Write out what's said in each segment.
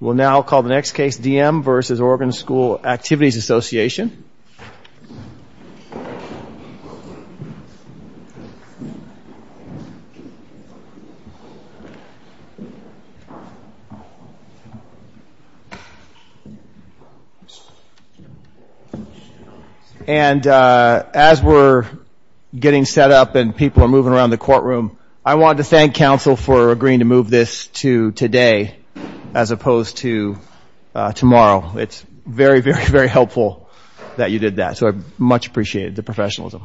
We'll now call the next case, D.M. v. Oregon School Activities Association. And as we're getting set up and people are moving around the courtroom, I want to thank counsel for agreeing to move this to today as opposed to tomorrow. It's very, very, very helpful that you did that, so I much appreciate the professionalism.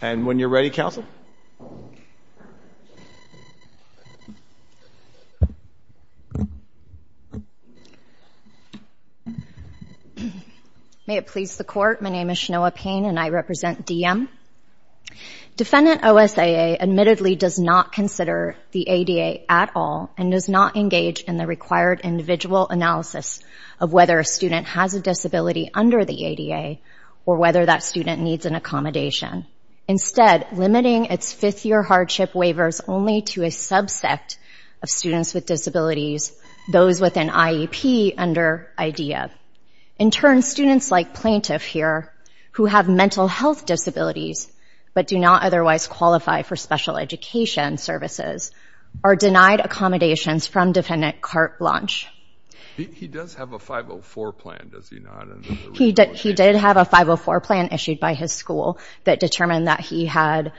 And when you're ready, counsel. May it please the court, my name is Shanoa Payne and I represent D.M. Defendant O.S.A.A. admittedly does not consider the ADA at all and does not engage in the required individual analysis of whether a student has a disability under the ADA or whether that student needs an accommodation. Instead, limiting its fifth-year hardship waivers only to a subsect of students with disabilities those with an IEP under IDEA. In turn, students like Plaintiff here, who have mental health disabilities but do not otherwise qualify for special education services, are denied accommodations from Defendant Carte Blanche. He does have a 504 plan, does he not? He did have a 504 plan issued by his school that determined that he had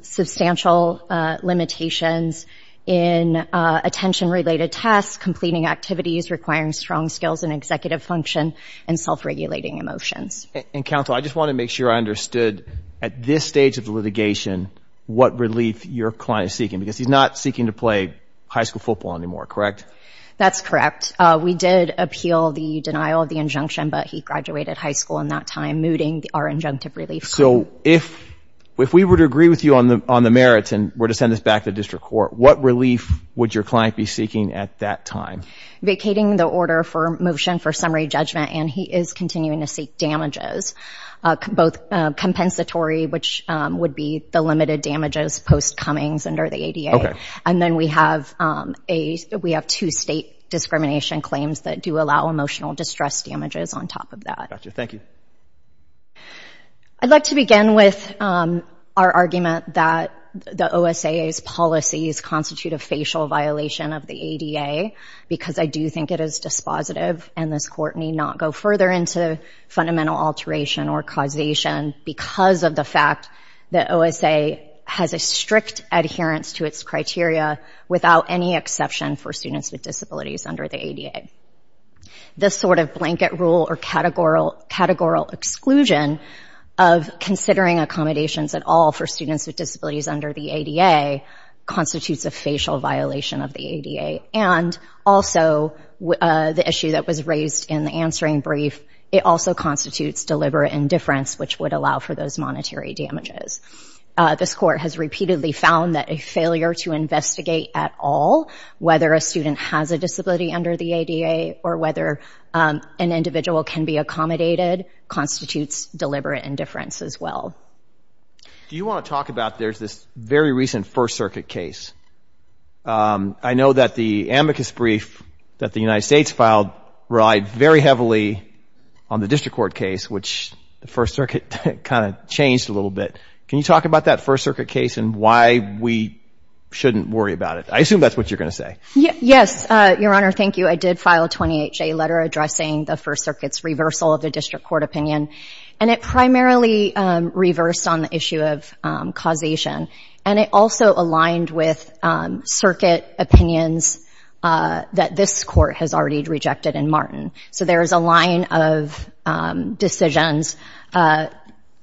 substantial limitations in attention-related tasks, completing activities requiring strong skills in executive function and self-regulating emotions. And counsel, I just want to make sure I understood at this stage of the litigation what relief your client is seeking because he's not seeking to play high school football anymore, correct? That's correct. We did appeal the denial of the injunction, but he graduated high school in that time, so we're not removing our injunctive relief. So if we were to agree with you on the merits and were to send this back to district court, what relief would your client be seeking at that time? Vacating the order for motion for summary judgment, and he is continuing to seek damages, both compensatory, which would be the limited damages post Cummings under the ADA. Okay. And then we have two state discrimination claims that do allow emotional distress damages on top of that. Gotcha. Thank you. I'd like to begin with our argument that the OSAA's policies constitute a facial violation of the ADA because I do think it is dispositive and this court need not go further into fundamental alteration or causation because of the fact that OSAA has a strict adherence to its criteria without any exception for students with disabilities under the ADA. This sort of blanket rule or categorical exclusion of considering accommodations at all for students with disabilities under the ADA constitutes a facial violation of the ADA, and also the issue that was raised in the answering brief, it also constitutes deliberate indifference, which would allow for those monetary damages. This court has repeatedly found that a failure to investigate at all, whether a student has a disability under the ADA or whether an individual can be accommodated, constitutes deliberate indifference as well. Do you want to talk about this very recent First Circuit case? I know that the amicus brief that the United States filed relied very heavily on the district court case, which the First Circuit kind of changed a little bit. Can you talk about that First Circuit case and why we shouldn't worry about it? I assume that's what you're going to say. Yes, Your Honor. Thank you. I did file a 28-J letter addressing the First Circuit's reversal of the district court opinion, and it primarily reversed on the issue of causation, and it also aligned with Circuit opinions that this Court has already rejected in Martin. So there is a line of decisions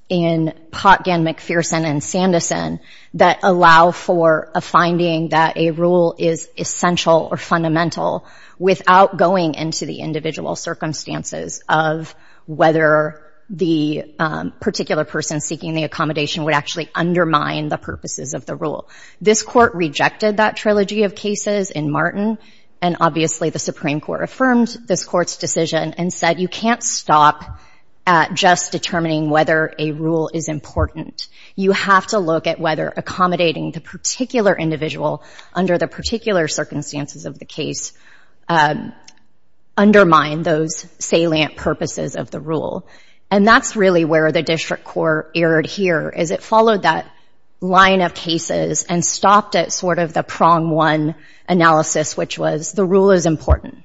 in Potgin, McPherson, and Sandison that allow for a finding that a rule is essential or fundamental without going into the individual circumstances of whether the particular person seeking the accommodation would actually undermine the purposes of the rule. This Court rejected that trilogy of cases in Martin, and obviously the Supreme Court affirmed this Court's decision and said you can't stop at just determining whether a rule is important. You have to look at whether accommodating the particular individual under the particular circumstances of the case undermine those salient purposes of the rule. And that's really where the district court erred here, is it followed that line of cases and stopped at sort of the prong one analysis, which was the rule is important,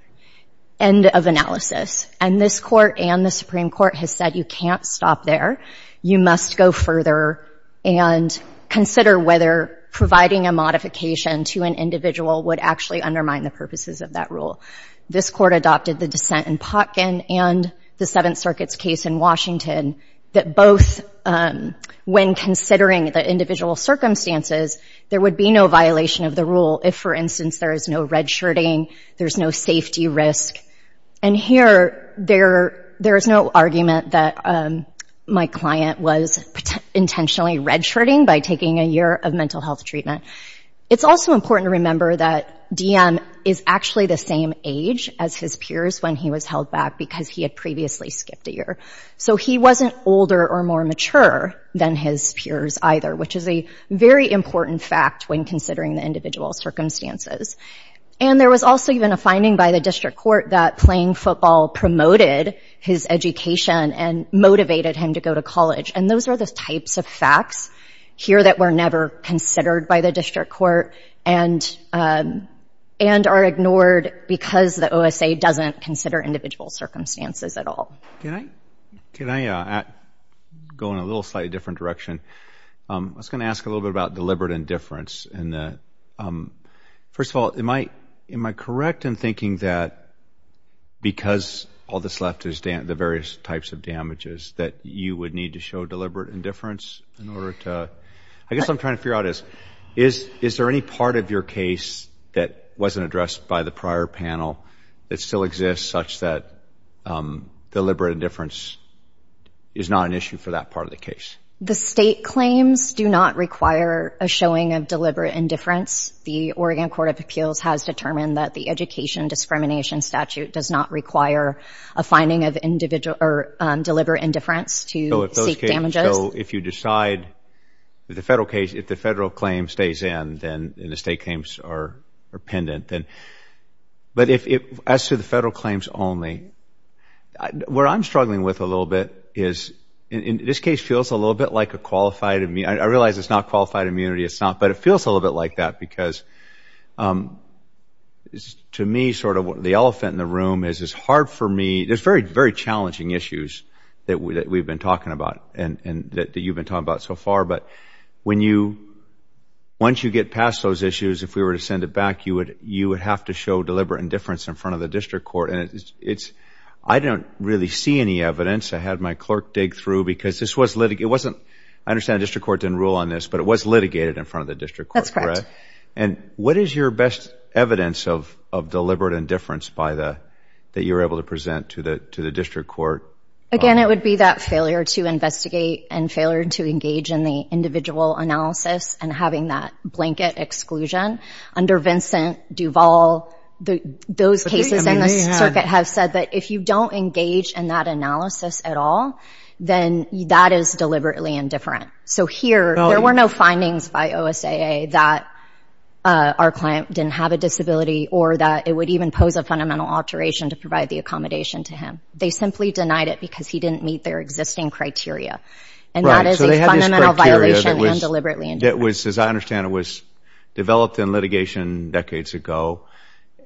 end of analysis, and this Court and the Supreme Court has said you can't stop there, you must go further and consider whether providing a modification to an individual would actually undermine the purposes of that rule. This Court adopted the dissent in Potgin and the Seventh Circuit's case in Washington that both when considering the individual circumstances, there would be no violation of the rule if, for instance, there is no redshirting, there's no safety risk. And here there is no argument that my client was intentionally redshirting by taking a year of mental health treatment. It's also important to remember that Diem is actually the same age as his peers when he was held back because he had previously skipped a year. So he wasn't older or more mature than his peers either, which is a very important fact when considering the individual circumstances. And there was also even a finding by the district court that playing football promoted his education and motivated him to go to college. And those are the types of facts here that were never considered by the district court and are ignored because the OSA doesn't consider individual circumstances at all. Can I go in a little slightly different direction? I was going to ask a little bit about deliberate indifference. First of all, am I correct in thinking that because all that's left is the various types of damages that you would need to show deliberate indifference in order to... I guess what I'm trying to figure out is, is there any part of your case that wasn't addressed by the prior panel that still exists such that deliberate indifference is not an issue for that part of the case? The state claims do not require a showing of deliberate indifference. The Oregon Court of Appeals has determined that the education discrimination statute does not require a finding of deliberate indifference to seek damages. So if you decide, in the federal case, if the federal claim stays in and the state claims are pendent, but as to the federal claims only, what I'm struggling with a little bit is, in this case, it feels a little bit like a qualified immunity. I realize it's not qualified immunity, but it feels a little bit like that because, to me, sort of the elephant in the room is it's hard for me... There's very, very challenging issues that we've been talking about and that you've been talking about so far, but once you get past those issues, if we were to send it back, you would have to show deliberate indifference in front of the district court. I don't really see any evidence. I had my clerk dig through because this was litigated. I understand the district court didn't rule on this, but it was litigated in front of the district court, correct? And what is your best evidence of deliberate indifference that you were able to present to the district court? Again, it would be that failure to investigate and failure to engage in the individual analysis and having that blanket exclusion. Under Vincent Duvall, those cases in the circuit have said that if you don't engage in that analysis at all, then that is deliberately indifferent. So here, there were no findings by OSAA that our client didn't have a disability or that it would even pose a fundamental alteration to provide the accommodation to him. They simply denied it because he didn't meet their existing criteria. And that is a fundamental violation and deliberately indifferent. As I understand, it was developed in litigation decades ago.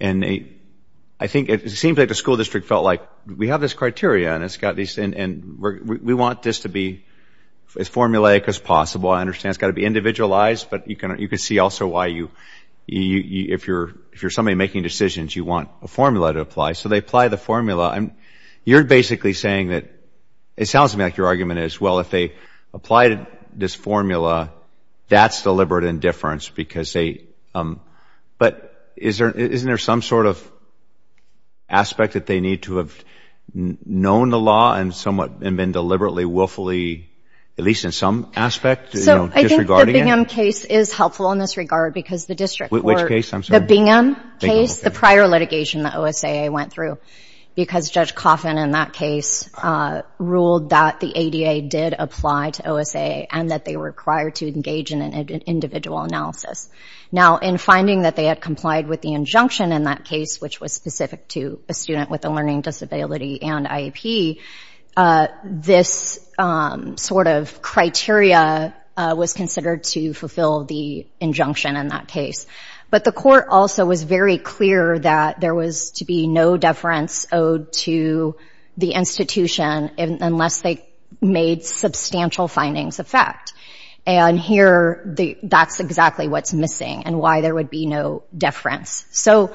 It seems like the school district felt like, we have this criteria and we want this to be as formulaic as possible. I understand it's got to be individualized, but you can see also why, if you're somebody making decisions, you want a formula to apply. So they apply the formula. You're basically saying that, it sounds to me like your argument is, well, if they apply this formula, that's deliberate indifference. But isn't there some sort of aspect that they need to have known the law and been deliberately, willfully, at least in some aspect, disregarding it? The Bingham case is helpful in this regard because the district... The Bingham case, the prior litigation that OSAA went through, because Judge Coffin in that case ruled that the ADA did apply to OSAA and that they were required to engage in an individual analysis. Now, in finding that they had complied with the injunction in that case, which was specific to a student with a learning disability and IEP, this sort of criteria was considered to fulfill the injunction in that case. But the court also was very clear that there was to be no deference owed to the institution unless they made substantial findings of fact. And here, that's exactly what's missing and why there would be no deference. So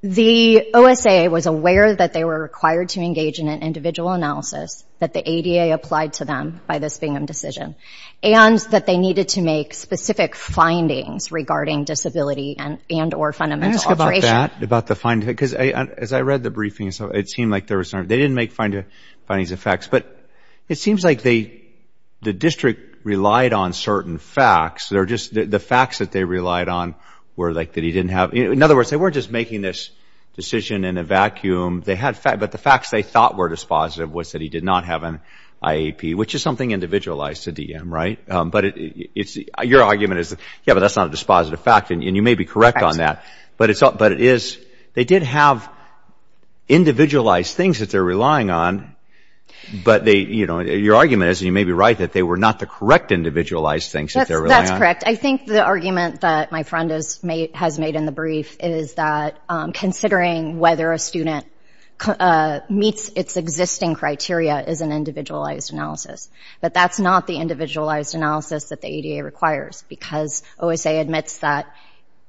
the OSAA was aware that they were required to engage in an individual analysis that the ADA applied to them by this Bingham decision, and that they needed to make specific findings regarding disability and or fundamental alteration. I'm going to ask you about that, about the findings, because as I read the briefings, they didn't make findings of facts, but it seems like the district relied on certain facts. The facts that they relied on were like that he didn't have. In other words, they weren't just making this decision in a vacuum. But the facts they thought were dispositive was that he did not have an IEP, which is something individualized to DM, right? But your argument is, yeah, but that's not a dispositive fact, and you may be correct on that. But it is, they did have individualized things that they're relying on, but your argument is, and you may be right, that they were not the correct individualized things that they're relying on. That's correct. I think the argument that my friend has made in the brief is that considering whether a student meets its existing criteria is an individualized analysis. But that's not the individualized analysis that the ADA requires, because OSA admits that,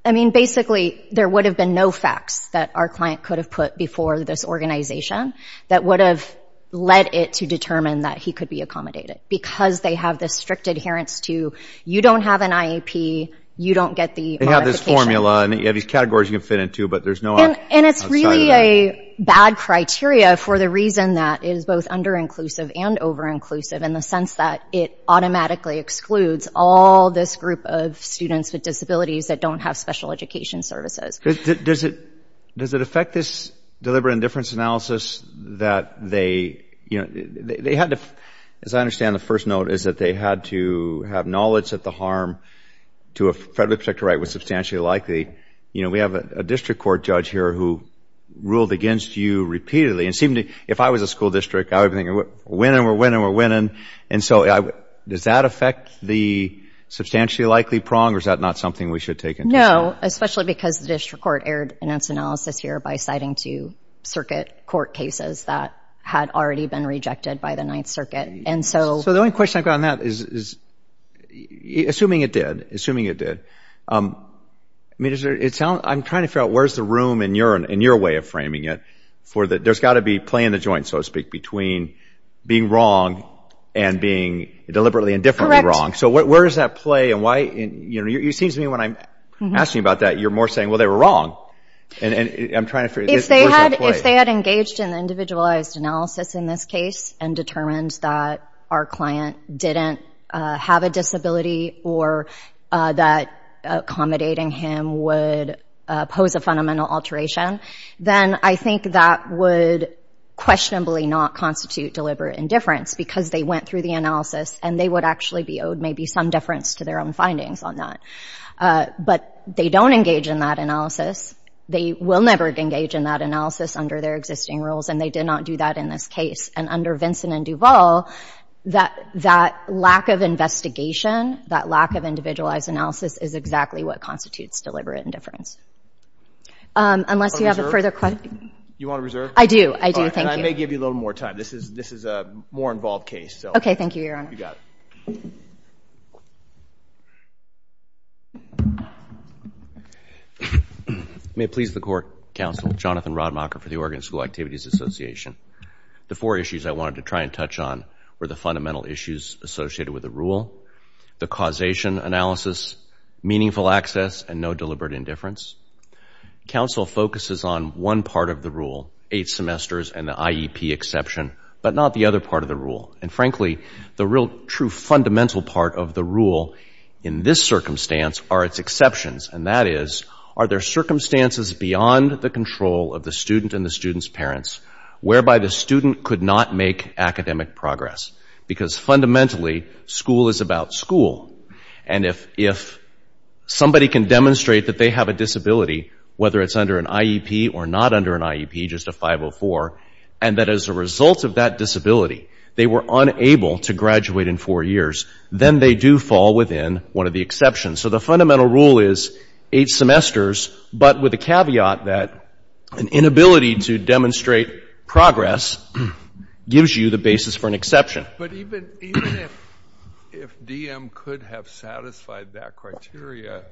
I mean, basically there would have been no facts that our client could have put before this organization that would have led it to determine that he could be accommodated, because they have this strict adherence to you don't have an IEP, you don't get the modification. They have this formula, and you have these categories you can fit into, but there's no outside of that. And it's really a bad criteria for the reason that it is both under-inclusive and over-inclusive, in the sense that it automatically excludes all this group of students with disabilities that don't have special education services. Does it affect this deliberate indifference analysis that they, you know, they had to, as I understand the first note is that they had to have knowledge that the harm to a federally protected right was substantially likely. You know, we have a district court judge here who ruled against you repeatedly, and it seemed to, if I was a school district, I would be thinking, we're winning, we're winning, we're winning. And so does that affect the substantially likely prong, or is that not something we should take into account? No, especially because the district court aired its analysis here by citing two circuit court cases that had already been rejected by the Ninth Circuit. So the only question I've got on that is, assuming it did, assuming it did, I mean, there's got to be play in the joint, so to speak, between being wrong and being deliberately indifferently wrong. So where does that play, and why, you know, it seems to me when I'm asking you about that, you're more saying, well, they were wrong. If they had engaged in individualized analysis in this case and determined that our client didn't have a disability or that accommodating him would pose a fundamental alteration, then I think that would questionably not constitute deliberate indifference, because they went through the analysis, and they would actually be owed maybe some difference to their own findings on that. But they don't engage in that analysis. They will never engage in that analysis under their existing rules, and they did not do that in this case. And under Vincent and Duval, that lack of investigation, that lack of individualized analysis, is exactly what constitutes deliberate indifference. Unless you have a further question. You want to reserve? I do. I do. Thank you. All right. And I may give you a little more time. This is a more involved case. Okay. Thank you, Your Honor. You got it. May it please the Court, Counsel Jonathan Rodmacher for the Oregon School Activities Association. The four issues I wanted to try and touch on were the fundamental issues associated with the rule, the causation analysis, meaningful access, and no deliberate indifference. Counsel focuses on one part of the rule, eight semesters and the IEP exception, but not the other part of the rule. And frankly, the real true fundamental part of the rule in this circumstance are its exceptions, and that is, are there circumstances beyond the control of the student and the student's parents whereby the student could not make academic progress? Because fundamentally, school is about school, and if somebody can demonstrate that they have a disability, whether it's under an IEP or not under an IEP, just a 504, and that as a result of that disability they were unable to graduate in four years, then they do fall within one of the exceptions. So the fundamental rule is eight semesters, but with the caveat that an inability to demonstrate progress gives you the basis for an exception. But even if DM could have satisfied that criteria,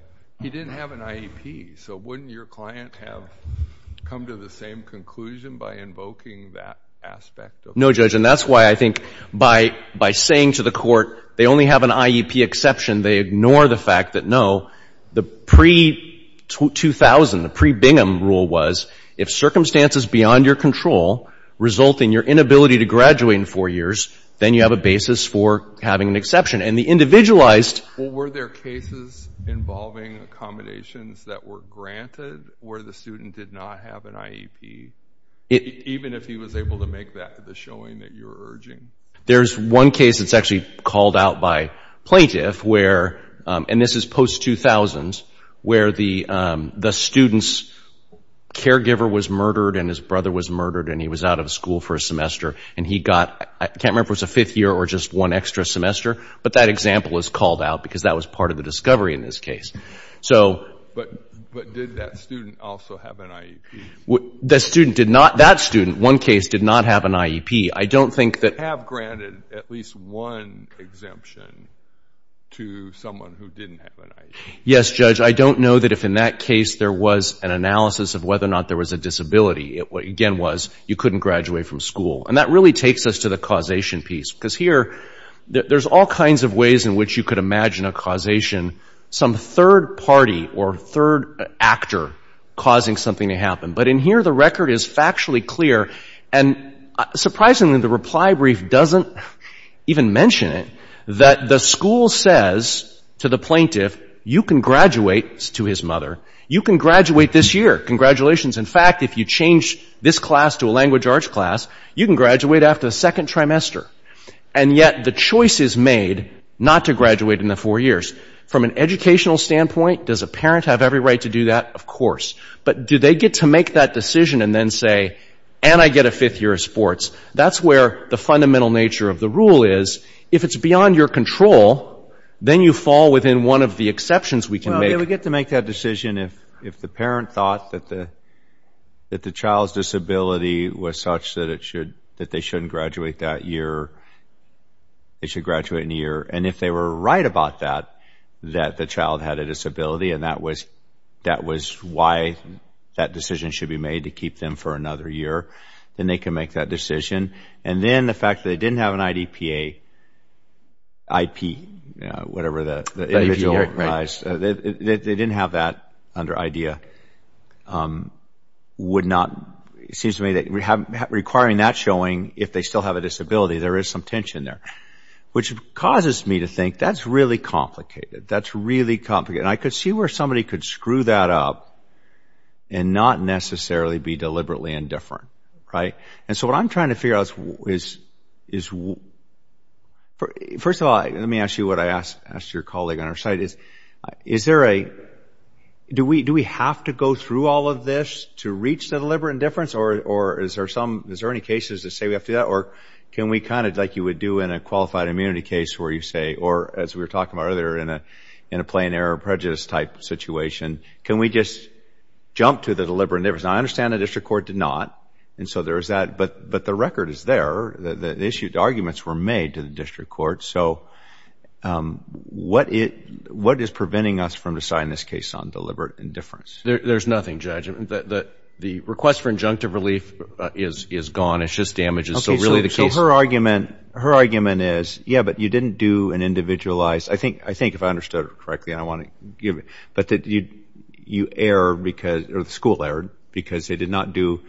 he didn't have an IEP. So wouldn't your client have come to the same conclusion by invoking that aspect of the rule? No, Judge, and that's why I think by saying to the court they only have an IEP exception, they ignore the fact that, no, the pre-2000, the pre-Bingham rule was, if circumstances beyond your control result in your inability to graduate in four years, then you have a basis for having an exception. And the individualized... Even if he was able to make that the showing that you're urging. There's one case that's actually called out by plaintiff where, and this is post-2000s, where the student's caregiver was murdered and his brother was murdered and he was out of school for a semester and he got, I can't remember if it was a fifth year or just one extra semester, but that example is called out because that was part of the discovery in this case. But did that student also have an IEP? That student, one case, did not have an IEP. Yes, Judge, I don't know that if in that case there was an analysis of whether or not there was a disability. Again, it was you couldn't graduate from school. And that really takes us to the causation piece. Because here, there's all kinds of ways in which you could imagine a causation, some third party or third actor causing something to happen. But in here the record is factually clear, and surprisingly the reply brief doesn't even mention it, that the school says to the plaintiff, you can graduate, to his mother, you can graduate this year. Congratulations, in fact, if you change this class to a language arts class, you can graduate after the second trimester. And yet the choice is made not to graduate in the four years. From an educational standpoint, does a parent have every right to do that? Of course. But do they get to make that decision and then say, and I get a fifth year of sports? That's where the fundamental nature of the rule is. If it's beyond your control, then you fall within one of the exceptions we can make. Well, they would get to make that decision if the parent thought that the child's disability was such that they shouldn't graduate that year, they should graduate in a year. And if they were right about that, that the child had a disability and that was why that decision should be made to keep them for another year, then they can make that decision. And then the fact that they didn't have an IDPA, IP, whatever that is, they didn't have that under IDEA, would not, it seems to me that requiring that showing, if they still have a disability, there is some tension there, which causes me to think that's really complicated. That's really complicated. And I could see where somebody could screw that up and not necessarily be deliberately indifferent. And so what I'm trying to figure out is, first of all, let me ask you what I asked your colleague on our site is, is there a, do we have to go through all of this to reach the deliberate indifference? Or is there some, is there any cases that say we have to do that? Or can we kind of like you would do in a qualified immunity case where you say, or as we were talking about earlier in a plain error prejudice type situation, can we just jump to the deliberate indifference? And I understand the district court did not. And so there is that, but the record is there. The issued arguments were made to the district court. So what is preventing us from deciding this case on deliberate indifference? There's nothing, Judge. The request for injunctive relief is gone. It's just damages. Okay. So her argument, her argument is, yeah, but you didn't do an individualized, I think, I think if I understood it correctly, I want to give it, but that you, you error because, or the school error because they did not do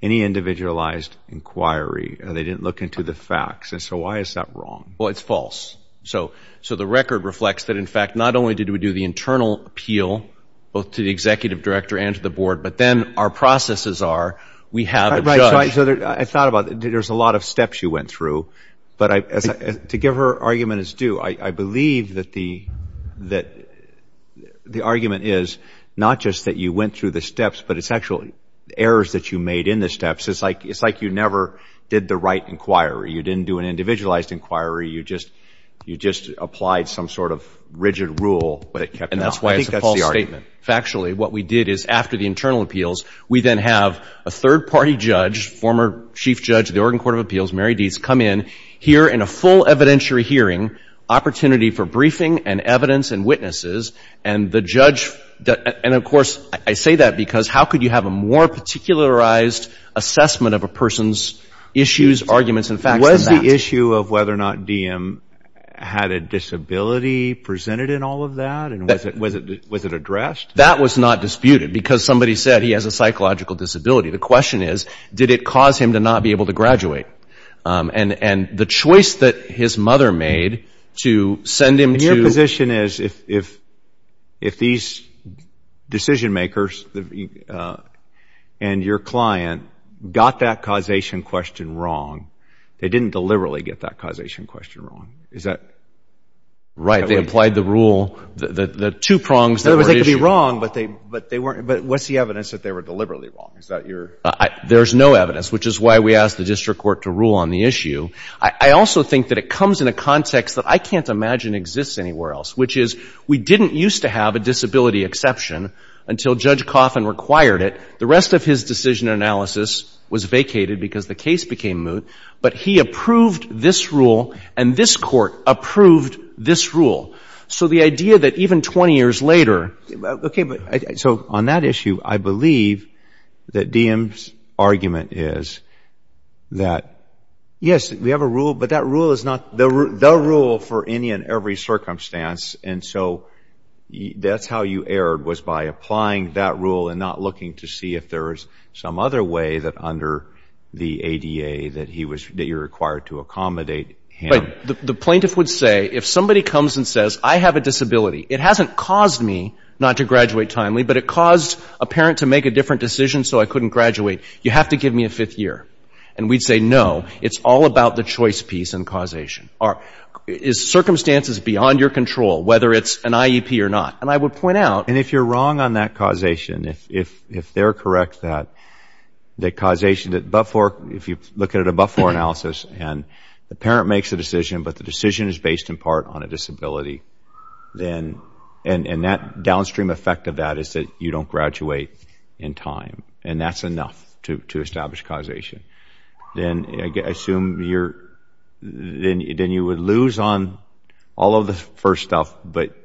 any individualized inquiry and they didn't look into the facts. And so why is that wrong? Well, it's false. So, so the record reflects that in fact, not only did we do the internal appeal, both to the executive director and to the board, but then our processes are, we have a judge. I thought about it. There's a lot of steps you went through, but to give her argument is due. I believe that the, that the argument is not just that you went through the steps, but it's actually errors that you made in the steps. It's like, it's like you never did the right inquiry. You didn't do an individualized inquiry. You just, you just applied some sort of rigid rule, but it kept. And that's why I think that's the argument. Factually, what we did is after the internal appeals, we then have a third party judge, former chief judge, the Oregon court of appeals, Mary Deetz, come in here in a full evidentiary hearing opportunity for briefing and evidence and witnesses and the judge. And of course, I say that because how could you have a more particularized assessment of a person's issues, arguments and facts than that? Was the issue of whether or not DM had a disability presented in all of that? And was it, was it, was it addressed? That was not disputed because somebody said he has a psychological disability. The question is, did it cause him to not be able to graduate? And, and the choice that his mother made to send him to. My position is if, if, if these decision makers and your client got that causation question wrong, they didn't deliberately get that causation question wrong. Is that? Right. They applied the rule, the, the, the two prongs that were issued. They could be wrong, but they, but they weren't, but what's the evidence that they were deliberately wrong? Is that your? There's no evidence, which is why we asked the district court to rule on the issue. I, I also think that it comes in a context that I can't imagine exists anywhere else, which is we didn't used to have a disability exception until Judge Coffin required it. The rest of his decision analysis was vacated because the case became moot, but he approved this rule and this court approved this rule. So the idea that even 20 years later. Okay, but, so on that issue, I believe that DM's argument is that, yes, we have a rule, but that rule is not the rule for any and every circumstance. And so that's how you erred was by applying that rule and not looking to see if there was some other way that under the ADA that he was, that you're required to accommodate him. The plaintiff would say, if somebody comes and says, I have a disability, it hasn't caused me not to graduate timely, but it caused a parent to make a different decision so I couldn't graduate. You have to give me a fifth year. And we'd say, no, it's all about the choice piece and causation. Are, is circumstances beyond your control, whether it's an IEP or not? And I would point out. And if you're wrong on that causation, if they're correct that causation, that before, if you look at a before analysis and the parent makes a decision, but the decision is based in part on a disability, then, and that downstream effect of that is that you don't graduate in time. And that's enough to establish causation. Then I assume you're, then you would lose on all of the first stuff, but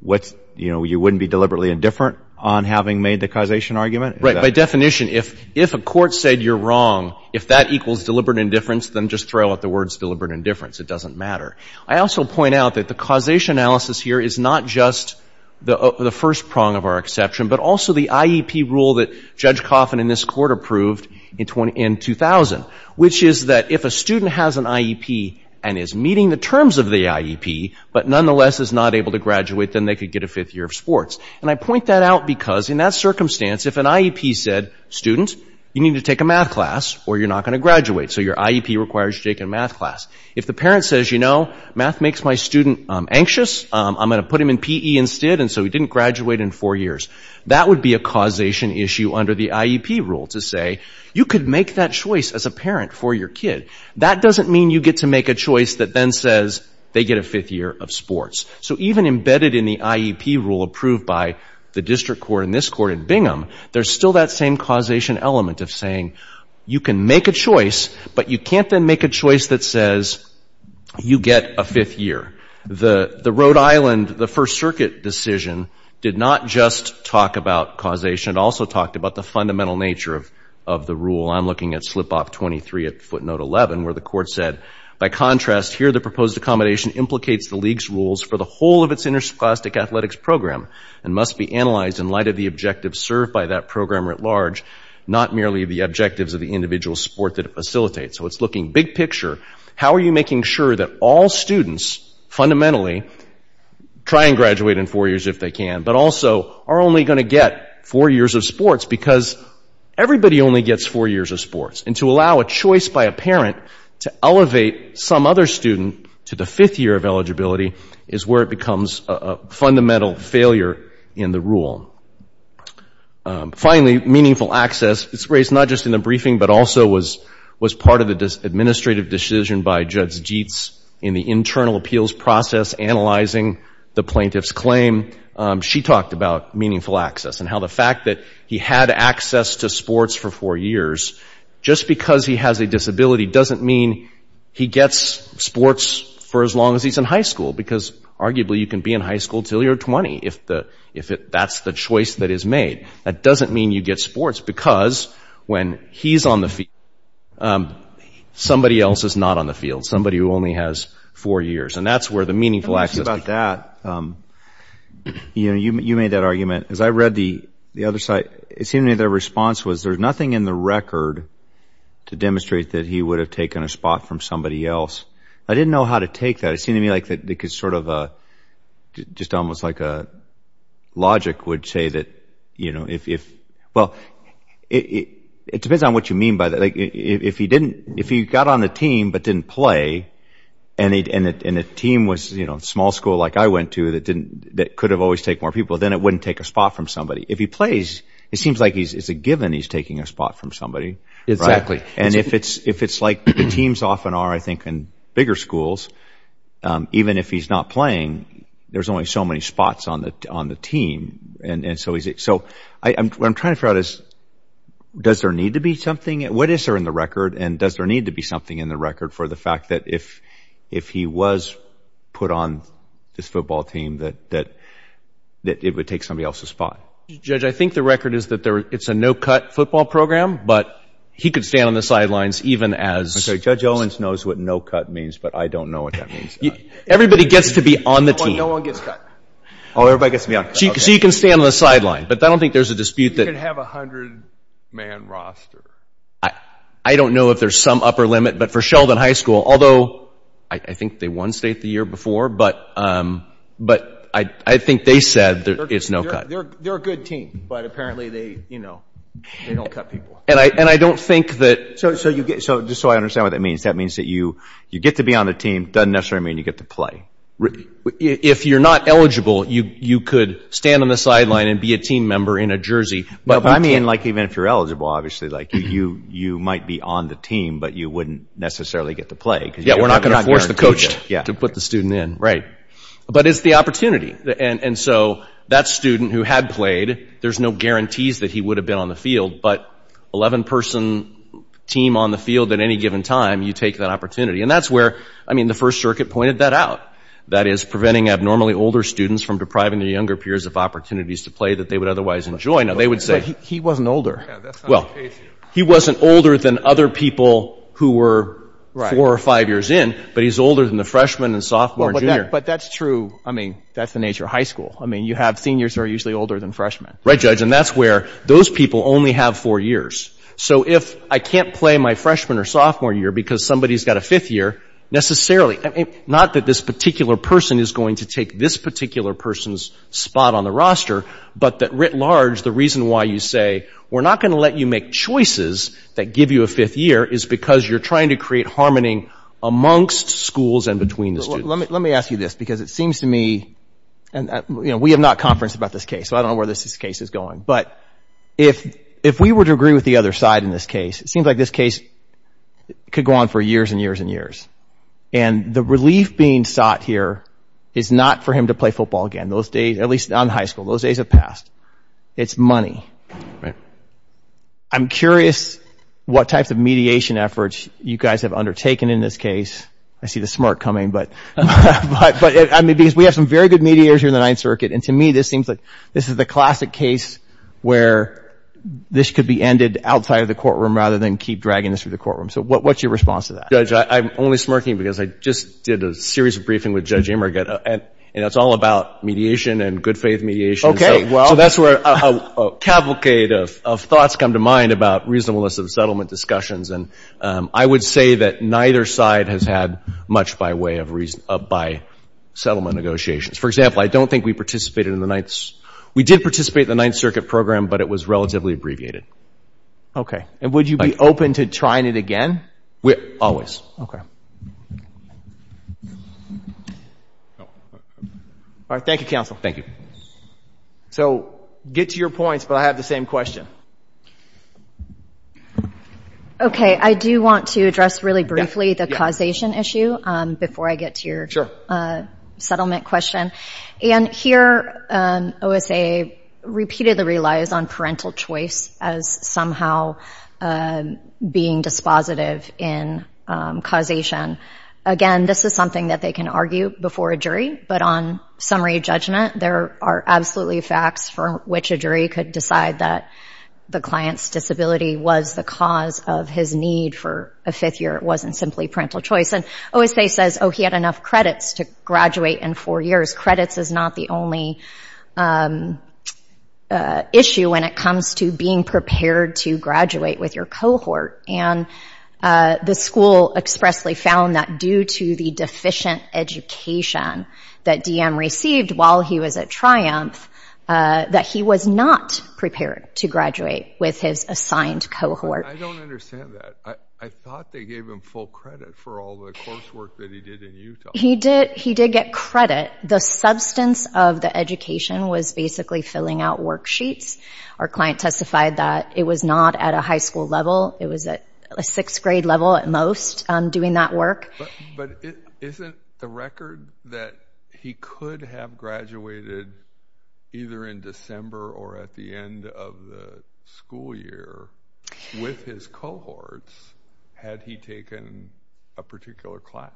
what's, you know, you wouldn't be deliberately indifferent on having made the causation argument? Right. By definition, if, if a court said you're wrong, if that equals deliberate indifference, then just throw out the words deliberate indifference. It doesn't matter. I also point out that the causation analysis here is not just the, the first prong of our exception, but also the IEP rule that Judge Coffin in this court approved in 2000, which is that if a student has an IEP and is meeting the terms of the IEP, but nonetheless is not able to graduate, then they could get a fifth year of sports. And I point that out because in that circumstance, if an IEP said, student, you need to take a math class or you're not going to graduate. So your IEP requires you to take a math class. If the parent says, you know, math makes my student anxious, I'm going to put him in PE instead. And so he didn't graduate in four years. That would be a causation issue under the IEP rule to say, you could make that choice as a parent for your kid. That doesn't mean you get to make a choice that then says they get a fifth year of sports. So even embedded in the IEP rule approved by the district court in this court in Bingham, there's still that same causation element of saying you can make a choice, but you can't then make a choice that says you get a fifth year. The Rhode Island, the First Circuit decision, did not just talk about causation. It also talked about the fundamental nature of the rule. I'm looking at slip-off 23 at footnote 11 where the court said, by contrast, here the proposed accommodation implicates the league's rules for the whole of its interscholastic athletics program and must be analyzed in light of the objectives served by that program at large, not merely the objectives of the individual sport that it facilitates. So it's looking big picture. How are you making sure that all students fundamentally try and graduate in four years if they can, but also are only going to get four years of sports because everybody only gets four years of sports. And to allow a choice by a parent to elevate some other student to the fifth year of eligibility is where it becomes a fundamental failure in the rule. Finally, meaningful access. It's raised not just in the briefing, but also was part of the administrative decision by Judge Jeetz in the internal appeals process analyzing the plaintiff's claim. She talked about meaningful access and how the fact that he had access to sports for four years, just because he has a disability doesn't mean he gets sports for as long as he's in high school, because arguably you can be in high school until you're 20 if that's the choice that is made. That doesn't mean you get sports because when he's on the field, somebody else is not on the field. Somebody who only has four years. And that's where the meaningful access. You made that argument. As I read the other side, it seemed to me their response was there's nothing in the record to demonstrate that he would have taken a spot from somebody else. I didn't know how to take that. It seemed to me like it was sort of just almost like logic would say that if, well, it depends on what you mean by that. If he got on the team but didn't play and the team was a small school like I went to that could have always taken more people, then it wouldn't take a spot from somebody. If he plays, it seems like it's a given he's taking a spot from somebody. And if it's like the teams often are, I think, in bigger schools, even if he's not playing, there's only so many spots on the team. So what I'm trying to figure out is does there need to be something? What is there in the record? And does there need to be something in the record for the fact that if he was put on this football team that it would take somebody else's spot? Judge, I think the record is that it's a no-cut football program, but he could stand on the sidelines even as— I'm sorry, Judge Owens knows what no-cut means, but I don't know what that means. Everybody gets to be on the team. No one gets cut. Oh, everybody gets to be on the team. So you can stand on the sidelines, but I don't think there's a dispute that— You can have a hundred-man roster. I don't know if there's some upper limit, but for Sheldon High School, although I think they won state the year before, but I think they said it's no-cut. They're a good team, but apparently they don't cut people. And I don't think that— So just so I understand what that means, that means that you get to be on the team doesn't necessarily mean you get to play. If you're not eligible, you could stand on the sideline and be a team member in a jersey. But I mean like even if you're eligible, obviously, like you might be on the team, but you wouldn't necessarily get to play. Yeah, we're not going to force the coach to put the student in. Right. But it's the opportunity, and so that student who had played, there's no guarantees that he would have been on the field, but 11-person team on the field at any given time, you take that opportunity. And that's where, I mean, the First Circuit pointed that out, that is preventing abnormally older students from depriving their younger peers of opportunities to play that they would otherwise enjoy. Now, they would say— But he wasn't older. Yeah, that's not the case here. Well, he wasn't older than other people who were four or five years in, but he's older than the freshman and sophomore and junior. But that's true. I mean, that's the nature of high school. I mean, you have seniors who are usually older than freshmen. Right, Judge. And that's where those people only have four years. So if I can't play my freshman or sophomore year because somebody's got a fifth year, necessarily— not that this particular person is going to take this particular person's spot on the roster, but that writ large, the reason why you say, we're not going to let you make choices that give you a fifth year is because you're trying to create harmony amongst schools and between the students. Let me ask you this, because it seems to me— and, you know, we have not conferenced about this case, so I don't know where this case is going. But if we were to agree with the other side in this case, it seems like this case could go on for years and years and years. And the relief being sought here is not for him to play football again, at least on high school. Those days have passed. It's money. Right. I'm curious what types of mediation efforts you guys have undertaken in this case. I see the smart coming, but— I mean, because we have some very good mediators here in the Ninth Circuit, and to me this seems like this is the classic case where this could be ended outside of the courtroom rather than keep dragging this through the courtroom. So what's your response to that? Judge, I'm only smirking because I just did a series of briefings with Judge Immergat, and it's all about mediation and good faith mediation. Okay, well— So that's where a cavalcade of thoughts come to mind about reasonableness of settlement discussions. And I would say that neither side has had much by way of—by settlement negotiations. For example, I don't think we participated in the Ninth— we did participate in the Ninth Circuit program, but it was relatively abbreviated. Okay. And would you be open to trying it again? Always. All right, thank you, counsel. Thank you. So get to your points, but I have the same question. Okay, I do want to address really briefly the causation issue before I get to your settlement question. And here, OSA repeatedly relies on parental choice as somehow being dispositive in causation. Again, this is something that they can argue before a jury, but on summary judgment, there are absolutely facts from which a jury could decide that the client's disability was the cause of his need for a fifth year. It wasn't simply parental choice. And OSA says, oh, he had enough credits to graduate in four years. Credits is not the only issue when it comes to being prepared to graduate with your cohort. And the school expressly found that due to the deficient education that DM received while he was at Triumph, that he was not prepared to graduate with his assigned cohort. I don't understand that. I thought they gave him full credit for all the coursework that he did in Utah. He did get credit. The substance of the education was basically filling out worksheets. Our client testified that it was not at a high school level. It was at a sixth grade level at most doing that work. But isn't the record that he could have graduated either in December or at the end of the school year with his cohorts had he taken a particular class?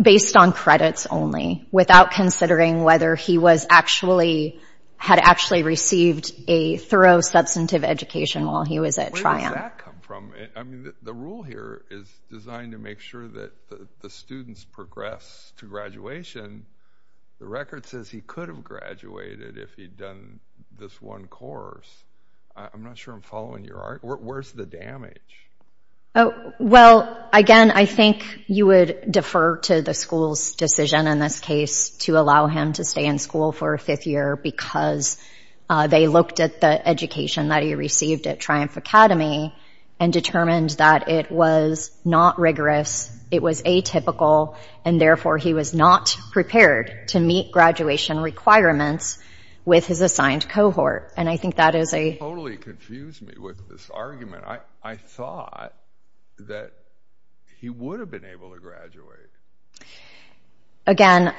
Based on credits only without considering whether he was actually, had actually received a thorough substantive education while he was at Triumph. Where does that come from? I mean, the rule here is designed to make sure that the students progress to graduation. The record says he could have graduated if he'd done this one course. I'm not sure I'm following your argument. Where's the damage? Well, again, I think you would defer to the school's decision in this case to allow him to stay in school for a fifth year because they looked at the education that he received at Triumph Academy and determined that it was not rigorous, it was atypical, and therefore he was not prepared to meet graduation requirements with his assigned cohort. And I think that is a... That totally confused me with this argument. I thought that he would have been able to graduate. Again,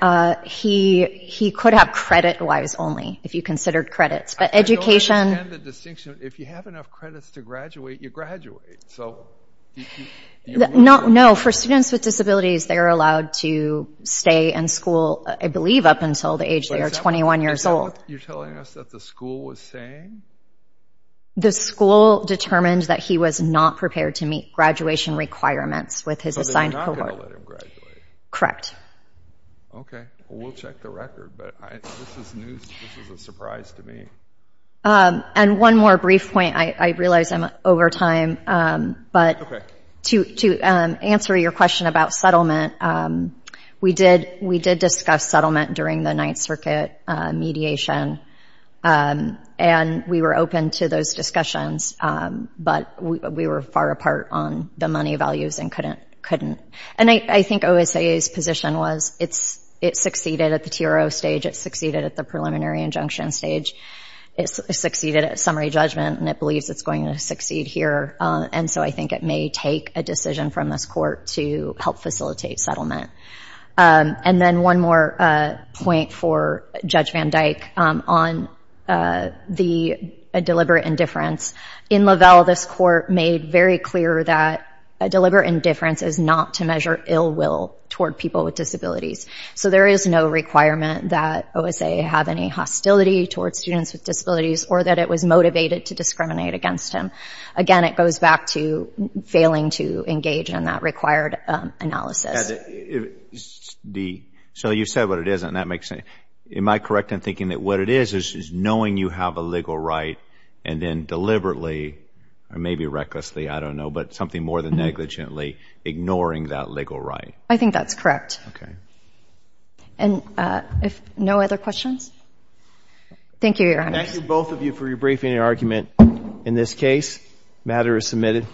he could have credit-wise only if you considered credits. But education... I don't understand the distinction. If you have enough credits to graduate, you graduate. No. For students with disabilities, they are allowed to stay in school, I believe, up until the age they are 21 years old. Is that what you're telling us that the school was saying? The school determined that he was not prepared to meet graduation requirements with his assigned cohort. So they're not going to let him graduate? Correct. Okay. Well, we'll check the record, but this is news. This is a surprise to me. And one more brief point. I realize I'm over time, but to answer your question about settlement, we did discuss settlement during the Ninth Circuit mediation, and we were open to those discussions, but we were far apart on the money values and couldn't. And I think OSA's position was it succeeded at the TRO stage, it succeeded at the preliminary injunction stage, it succeeded at summary judgment, and it believes it's going to succeed here. And so I think it may take a decision from this court to help facilitate settlement. And then one more point for Judge Van Dyke on the deliberate indifference. In Lavelle, this court made very clear that deliberate indifference is not to measure ill will toward people with disabilities. So there is no requirement that OSA have any hostility towards students with disabilities or that it was motivated to discriminate against him. Again, it goes back to failing to engage in that required analysis. So you said what it is, and that makes sense. Am I correct in thinking that what it is is knowing you have a legal right and then deliberately, or maybe recklessly, I don't know, but something more than negligently ignoring that legal right? I think that's correct. And no other questions? Thank you, Your Honor. Thank you, both of you, for your briefing and argument in this case. The matter is submitted.